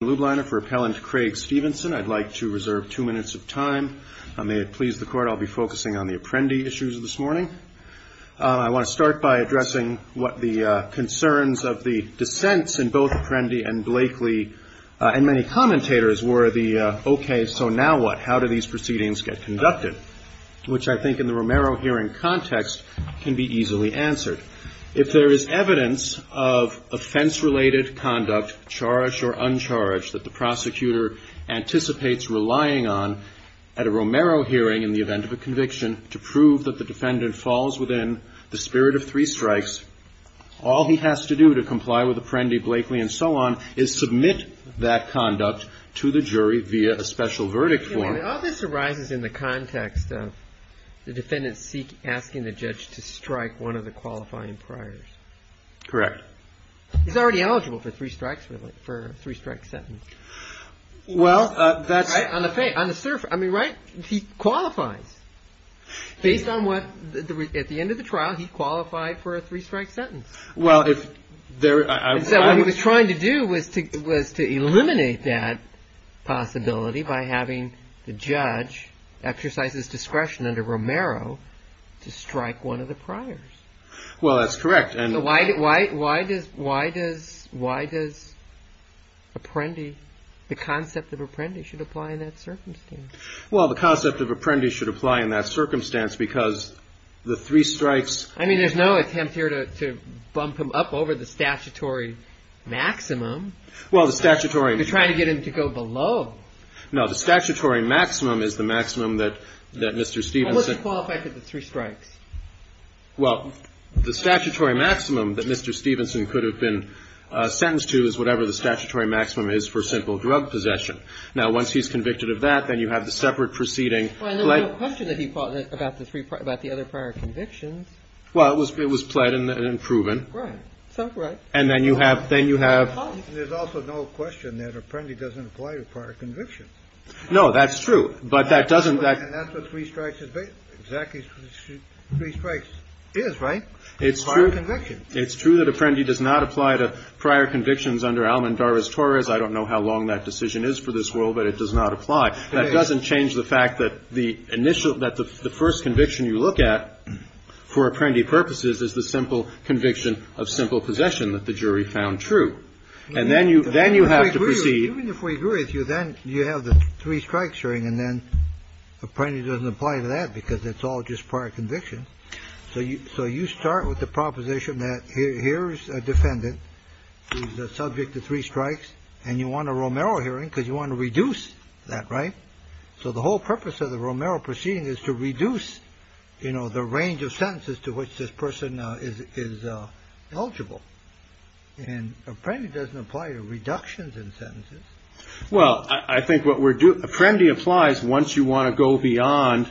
for Appellant Craig Stevenson. I'd like to reserve two minutes of time. May it please the court, I'll be focusing on the Apprendi issues this morning. I want to start by addressing what the concerns of the dissents in both Apprendi and Blakely, and many commentators, were the, OK, so now what? How do these proceedings get conducted? Which I think in the Romero hearing context can be easily answered. If there is evidence of offense-related conduct, charged or uncharged, that the prosecutor anticipates relying on at a Romero hearing in the event of a conviction to prove that the defendant falls within the spirit of three strikes, all he has to do to comply with Apprendi, Blakely, and so on is submit that conduct to the jury via a special verdict form. All this arises in the context of the defendant asking the judge to strike one of the qualifying priors. Correct. He's already eligible for three strikes, really, for a three-strike sentence. Well, that's on the face, on the surface. I mean, right, he qualifies. Based on what, at the end of the trial, he qualified for a three-strike sentence. Well, if there was trying to do was to eliminate that possibility by having the judge exercise his discretion under Romero to strike one of the priors. Well, that's correct. And why does Apprendi, the concept of Apprendi, should apply in that circumstance? Well, the concept of Apprendi should apply in that circumstance because the three strikes. I mean, there's no attempt here to bump him up over the statutory maximum. Well, the statutory. They're trying to get him to go below. No, the statutory maximum is the maximum that Mr. Stevens said. What would you qualify for the three strikes? Well, the statutory maximum that Mr. Stevenson could have been sentenced to is whatever the statutory maximum is for simple drug possession. Now, once he's convicted of that, then you have the separate proceeding. Well, there's no question that he fought about the other prior convictions. Well, it was pled and proven. Right. So, right. And then you have, then you have. There's also no question that Apprendi doesn't apply to prior convictions. No, that's true. But that doesn't. And that's what three strikes is based on. Exactly. Three strikes is, right? It's true. It's prior conviction. It's true that Apprendi does not apply to prior convictions under Alam and Darvas-Torres. I don't know how long that decision is for this world, but it does not apply. It is. That doesn't change the fact that the initial, that the first conviction you look at for Apprendi purposes is the simple conviction of simple possession that the jury found true. And then you, then you have to proceed. Even if we agree with you, then you have the three strikes hearing. And then Apprendi doesn't apply to that because it's all just prior conviction. So you, so you start with the proposition that here's a defendant who's a subject to three strikes. And you want a Romero hearing because you want to reduce that. Right. So the whole purpose of the Romero proceeding is to reduce, you know, the range of sentences to which this person is eligible. And Apprendi doesn't apply to reductions in sentences. Well, I think what we're doing, Apprendi applies once you want to go beyond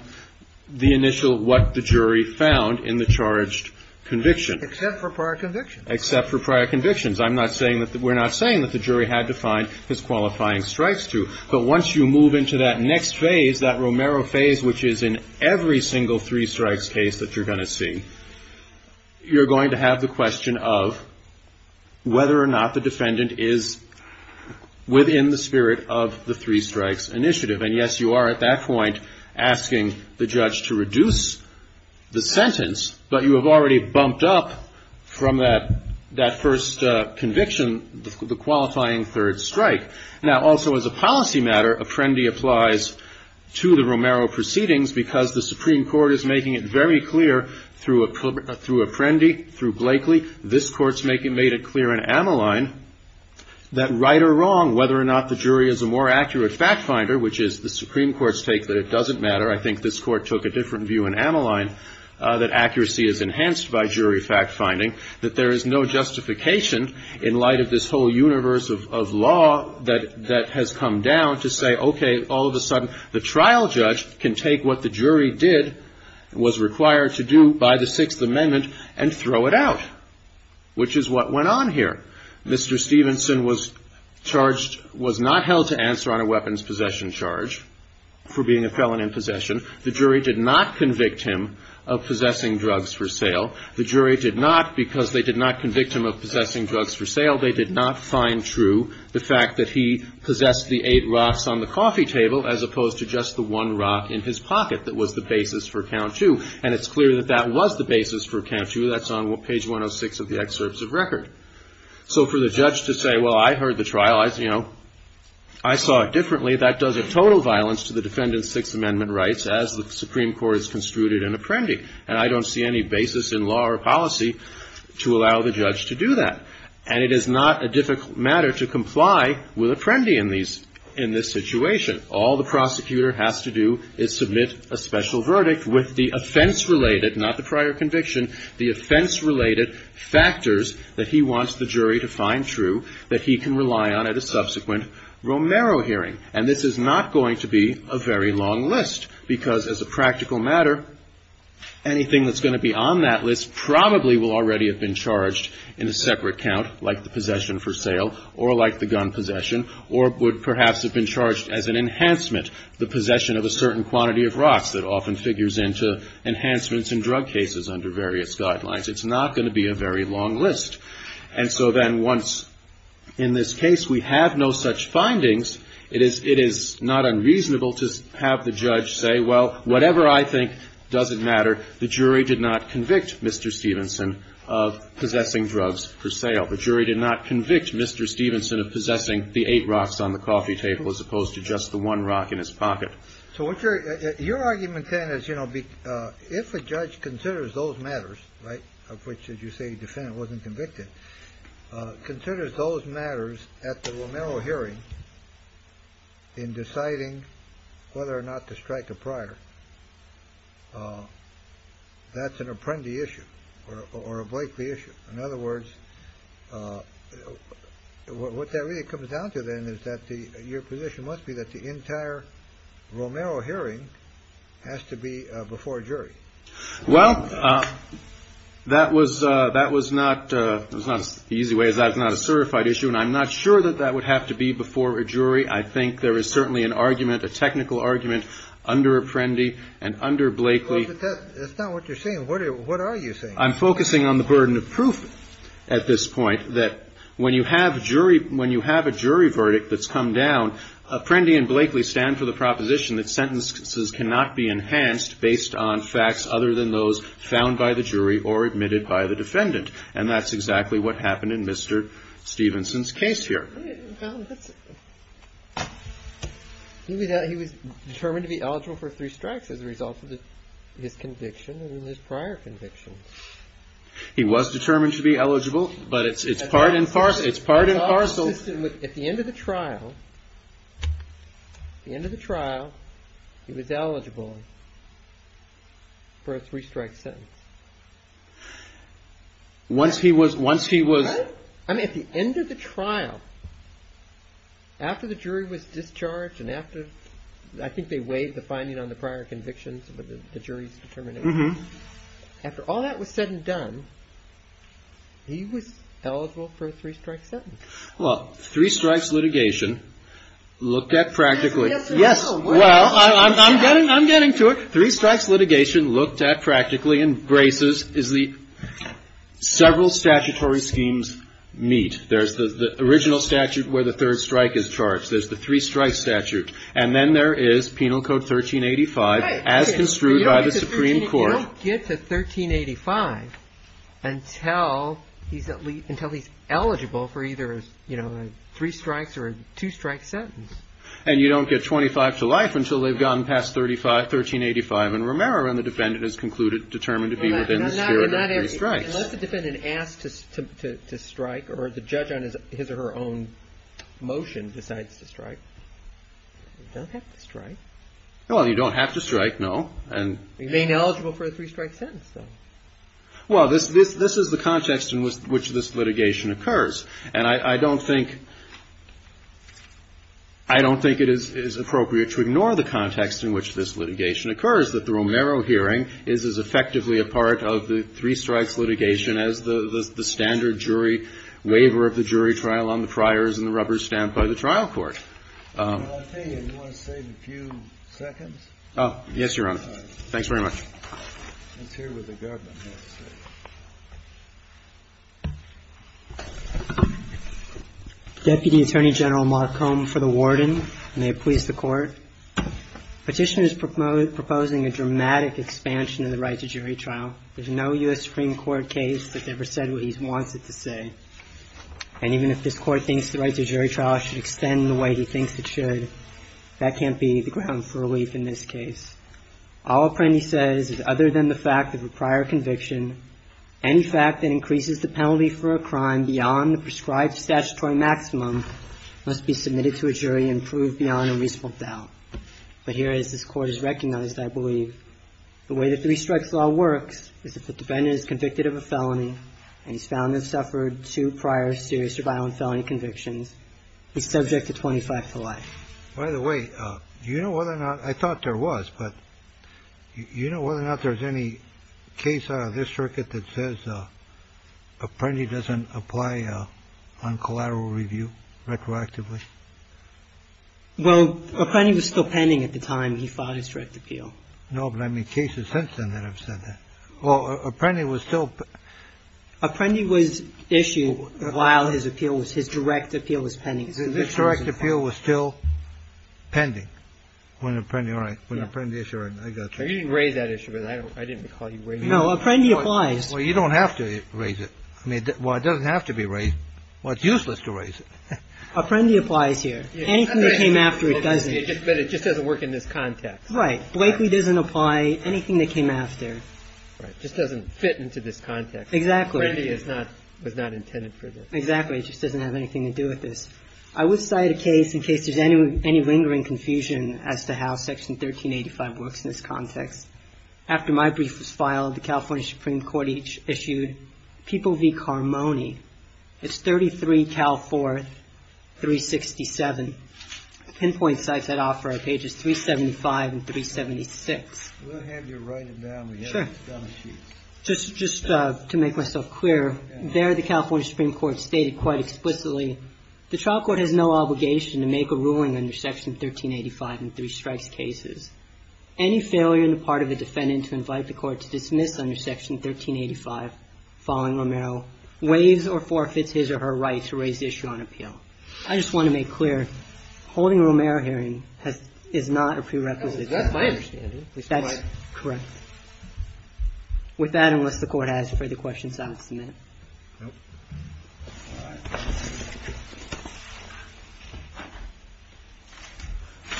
the initial, what the jury found in the charged conviction. Except for prior convictions. Except for prior convictions. I'm not saying that, we're not saying that the jury had to find his qualifying strikes too. But once you move into that next phase, that Romero phase, which is in every single three strikes case that you're going to see, you're going to have the question of whether or not the defendant is within the spirit of the three strikes initiative. And yes, you are at that point asking the judge to reduce the sentence. But you have already bumped up from that, that first conviction, the qualifying third strike. Now also as a policy matter, Apprendi applies to the Romero proceedings because the Supreme Court is making it very clear through Apprendi, through Blakely. This court's made it clear in Ammaline that right or wrong, whether or not the jury is a more accurate fact finder, which is the Supreme Court's take that it doesn't matter. I think this court took a different view in Ammaline, that accuracy is enhanced by jury fact finding. That there is no justification in light of this whole universe of law that has come down to say, okay, all of a sudden the trial judge can take what the jury did, was required to do by the Sixth Amendment, and throw it out. Which is what went on here. Mr. Stevenson was charged, was not held to answer on a weapons possession charge for being a felon in possession. The jury did not convict him of possessing drugs for sale. The jury did not, because they did not convict him of possessing drugs for sale, they did not find true the fact that he possessed the eight rocks on the coffee table as opposed to just the one rock in his pocket that was the basis for count two. And it's clear that that was the basis for count two, that's on page 106 of the excerpts of record. So for the judge to say, well, I heard the trial, I saw it differently, that does a total violence to the defendant's Sixth Amendment rights as the Supreme Court has construed it in Apprendi. And I don't see any basis in law or policy to allow the judge to do that. And it is not a difficult matter to comply with Apprendi in this situation. All the prosecutor has to do is submit a special verdict with the offense-related, not the prior conviction, the offense-related factors that he wants the jury to find true, that he can rely on at a subsequent Romero hearing. And this is not going to be a very long list, because as a practical matter, anything that's going to be on that list probably will already have been charged in a separate count, like the possession for sale, or like the gun possession, or would perhaps have been charged as an enhancement, the possession of a certain quantity of rocks that often figures into enhancements in drug cases under various guidelines. It's not going to be a very long list. And so then once, in this case, we have no such findings, it is not unreasonable to have the judge say, well, whatever I think doesn't matter. The jury did not convict Mr. Stevenson of possessing drugs for sale. The jury did not convict Mr. Stevenson of possessing the eight rocks on the coffee table as opposed to just the one rock in his pocket. So your argument then is, you know, if a judge considers those matters, right, of which, as you say, defendant wasn't convicted, considers those matters at the Romero hearing. In deciding whether or not to strike a prior. That's an apprendi issue or a Blakely issue. In other words, what that really comes down to then is that the your position must be that the entire Romero hearing has to be before a jury. Well, that was that was not the easy way. Is that not a certified issue? And I'm not sure that that would have to be before a jury. I think there is certainly an argument, a technical argument under Apprendi and under Blakely. That's not what you're saying. What are you saying? I'm focusing on the burden of proof at this point. That when you have a jury, when you have a jury verdict that's come down, Apprendi and Blakely stand for the proposition that sentences cannot be enhanced based on facts other than those found by the jury or admitted by the defendant. And that's exactly what happened in Mr. Stevenson's case here. He was determined to be eligible for three strikes as a result of his conviction in his prior conviction. He was determined to be eligible, but it's it's part and parcel. It's part and parcel. At the end of the trial, at the end of the trial, he was eligible for a three strike sentence. Once he was once he was at the end of the trial. After the jury was discharged and after I think they weighed the finding on the prior convictions, the jury's determination after all that was said and done. He was eligible for a three strike sentence. Well, three strikes litigation looked at practically. Yes. Well, I'm getting I'm getting to it. Three strikes litigation looked at practically and braces is the several statutory schemes meet. There's the original statute where the third strike is charged. There's the three strike statute. And then there is penal code 1385 as construed by the Supreme Court. You don't get to 1385 until he's at least until he's eligible for either, you know, three strikes or a two strike sentence. And you don't get 25 to life until they've gone past 35, 1385. And remember, when the defendant is concluded, determined to be within the spirit of three strikes. Unless the defendant asked to strike or the judge on his his or her own motion decides to strike. Don't have to strike. Well, you don't have to strike. No. And remain eligible for a three strike sentence. So, well, this this this is the context in which this litigation occurs. And I don't think I don't think it is appropriate to ignore the context in which this litigation occurs. That the Romero hearing is as effectively a part of the three strikes litigation as the standard jury waiver of the jury trial on the priors and the rubber stamp by the trial court. I'll tell you, do you want to save a few seconds? Oh, yes, Your Honor. Thanks very much. Let's hear what the government has to say. Deputy Attorney General Marcom for the Warden, and may it please the Court. Petitioner is proposing a dramatic expansion of the right to jury trial. There's no U.S. Supreme Court case that's ever said what he wants it to say. And even if this Court thinks the right to jury trial should extend the way he thinks it should, that can't be the ground for relief in this case. All Apprendi says is other than the fact of a prior conviction, any fact that increases the penalty for a crime beyond the prescribed statutory maximum must be submitted to a jury and proved beyond a reasonable doubt. But here is this Court is recognized, I believe. The way the three strikes law works is if the defendant is convicted of a felony and he's found to have suffered two prior serious or violent felony convictions, he's subject to 25 to life. By the way, you know whether or not I thought there was, but you know whether or not there's any case out of this circuit that says Apprendi doesn't apply on collateral review retroactively? Well, Apprendi was still pending at the time he filed his direct appeal. No, but I mean, cases since then that have said that. Well, Apprendi was still. Apprendi was issued while his appeal was, his direct appeal was pending. His direct appeal was still pending when Apprendi, when Apprendi issued it, I gotcha. You didn't raise that issue, but I didn't recall you raising it. No, Apprendi applies. Well, you don't have to raise it. I mean, well, it doesn't have to be raised. Well, it's useless to raise it. Apprendi applies here. Anything that came after it doesn't. But it just doesn't work in this context. Right. Blakely doesn't apply anything that came after. Right. Just doesn't fit into this context. Exactly. Apprendi is not, was not intended for this. Exactly. It just doesn't have anything to do with this. I would cite a case in case there's any lingering confusion as to how Section 1385 works in this context. After my brief was filed, the California Supreme Court issued People v. Carmoni. It's 33 Cal 4, 367. Pinpoint cites that offer at pages 375 and 376. We'll have you write it down. We have it on a sheet. Just to make myself clear, there the California Supreme Court stated quite explicitly, the trial court has no obligation to make a ruling under Section 1385 in three strikes cases. Any failure on the part of the defendant to invite the court to dismiss under Section 1385 following Romero waives or forfeits his or her right to raise the issue on appeal. I just want to make clear, holding a Romero hearing is not a prerequisite. That's my understanding. That's correct. With that, unless the court has further questions, I'll submit.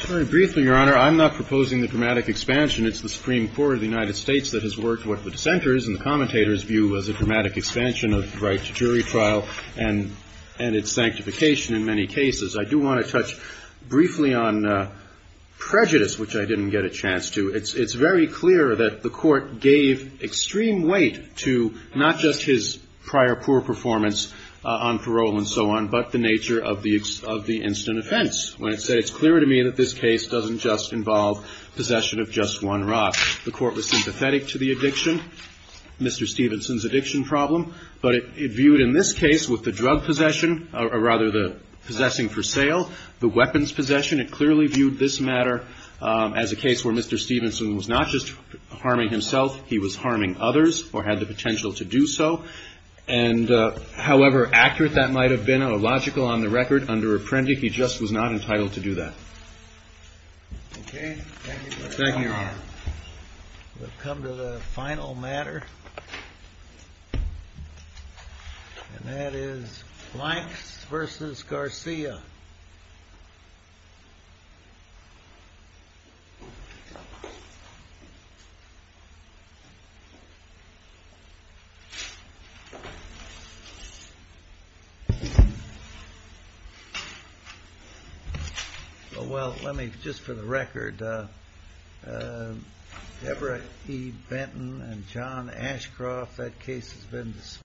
Very briefly, Your Honor, I'm not proposing the dramatic expansion. It's the Supreme Court of the United States that has worked with the dissenters and the commentators view was a dramatic expansion of the right to jury trial. And its sanctification in many cases. I do want to touch briefly on prejudice, which I didn't get a chance to. It's very clear that the court gave extreme weight to not just his prior poor performance on parole and so on, but the nature of the instant offense. When it's said, it's clear to me that this case doesn't just involve possession of just one rock. The court was sympathetic to the addiction, Mr. Stevenson's addiction problem. But it viewed in this case with the drug possession, or rather the possessing for sale, the weapons possession. It clearly viewed this matter as a case where Mr. Stevenson was not just harming himself. He was harming others or had the potential to do so. And however accurate that might have been, or logical on the record, under Apprendi, he just was not entitled to do that. Okay. Thank you, Your Honor. We'll come to the final matter. And that is Blanks versus Garcia. Well, let me, just for the record, Deborah E. Benton and John Ashcroft, that case has been dismissed.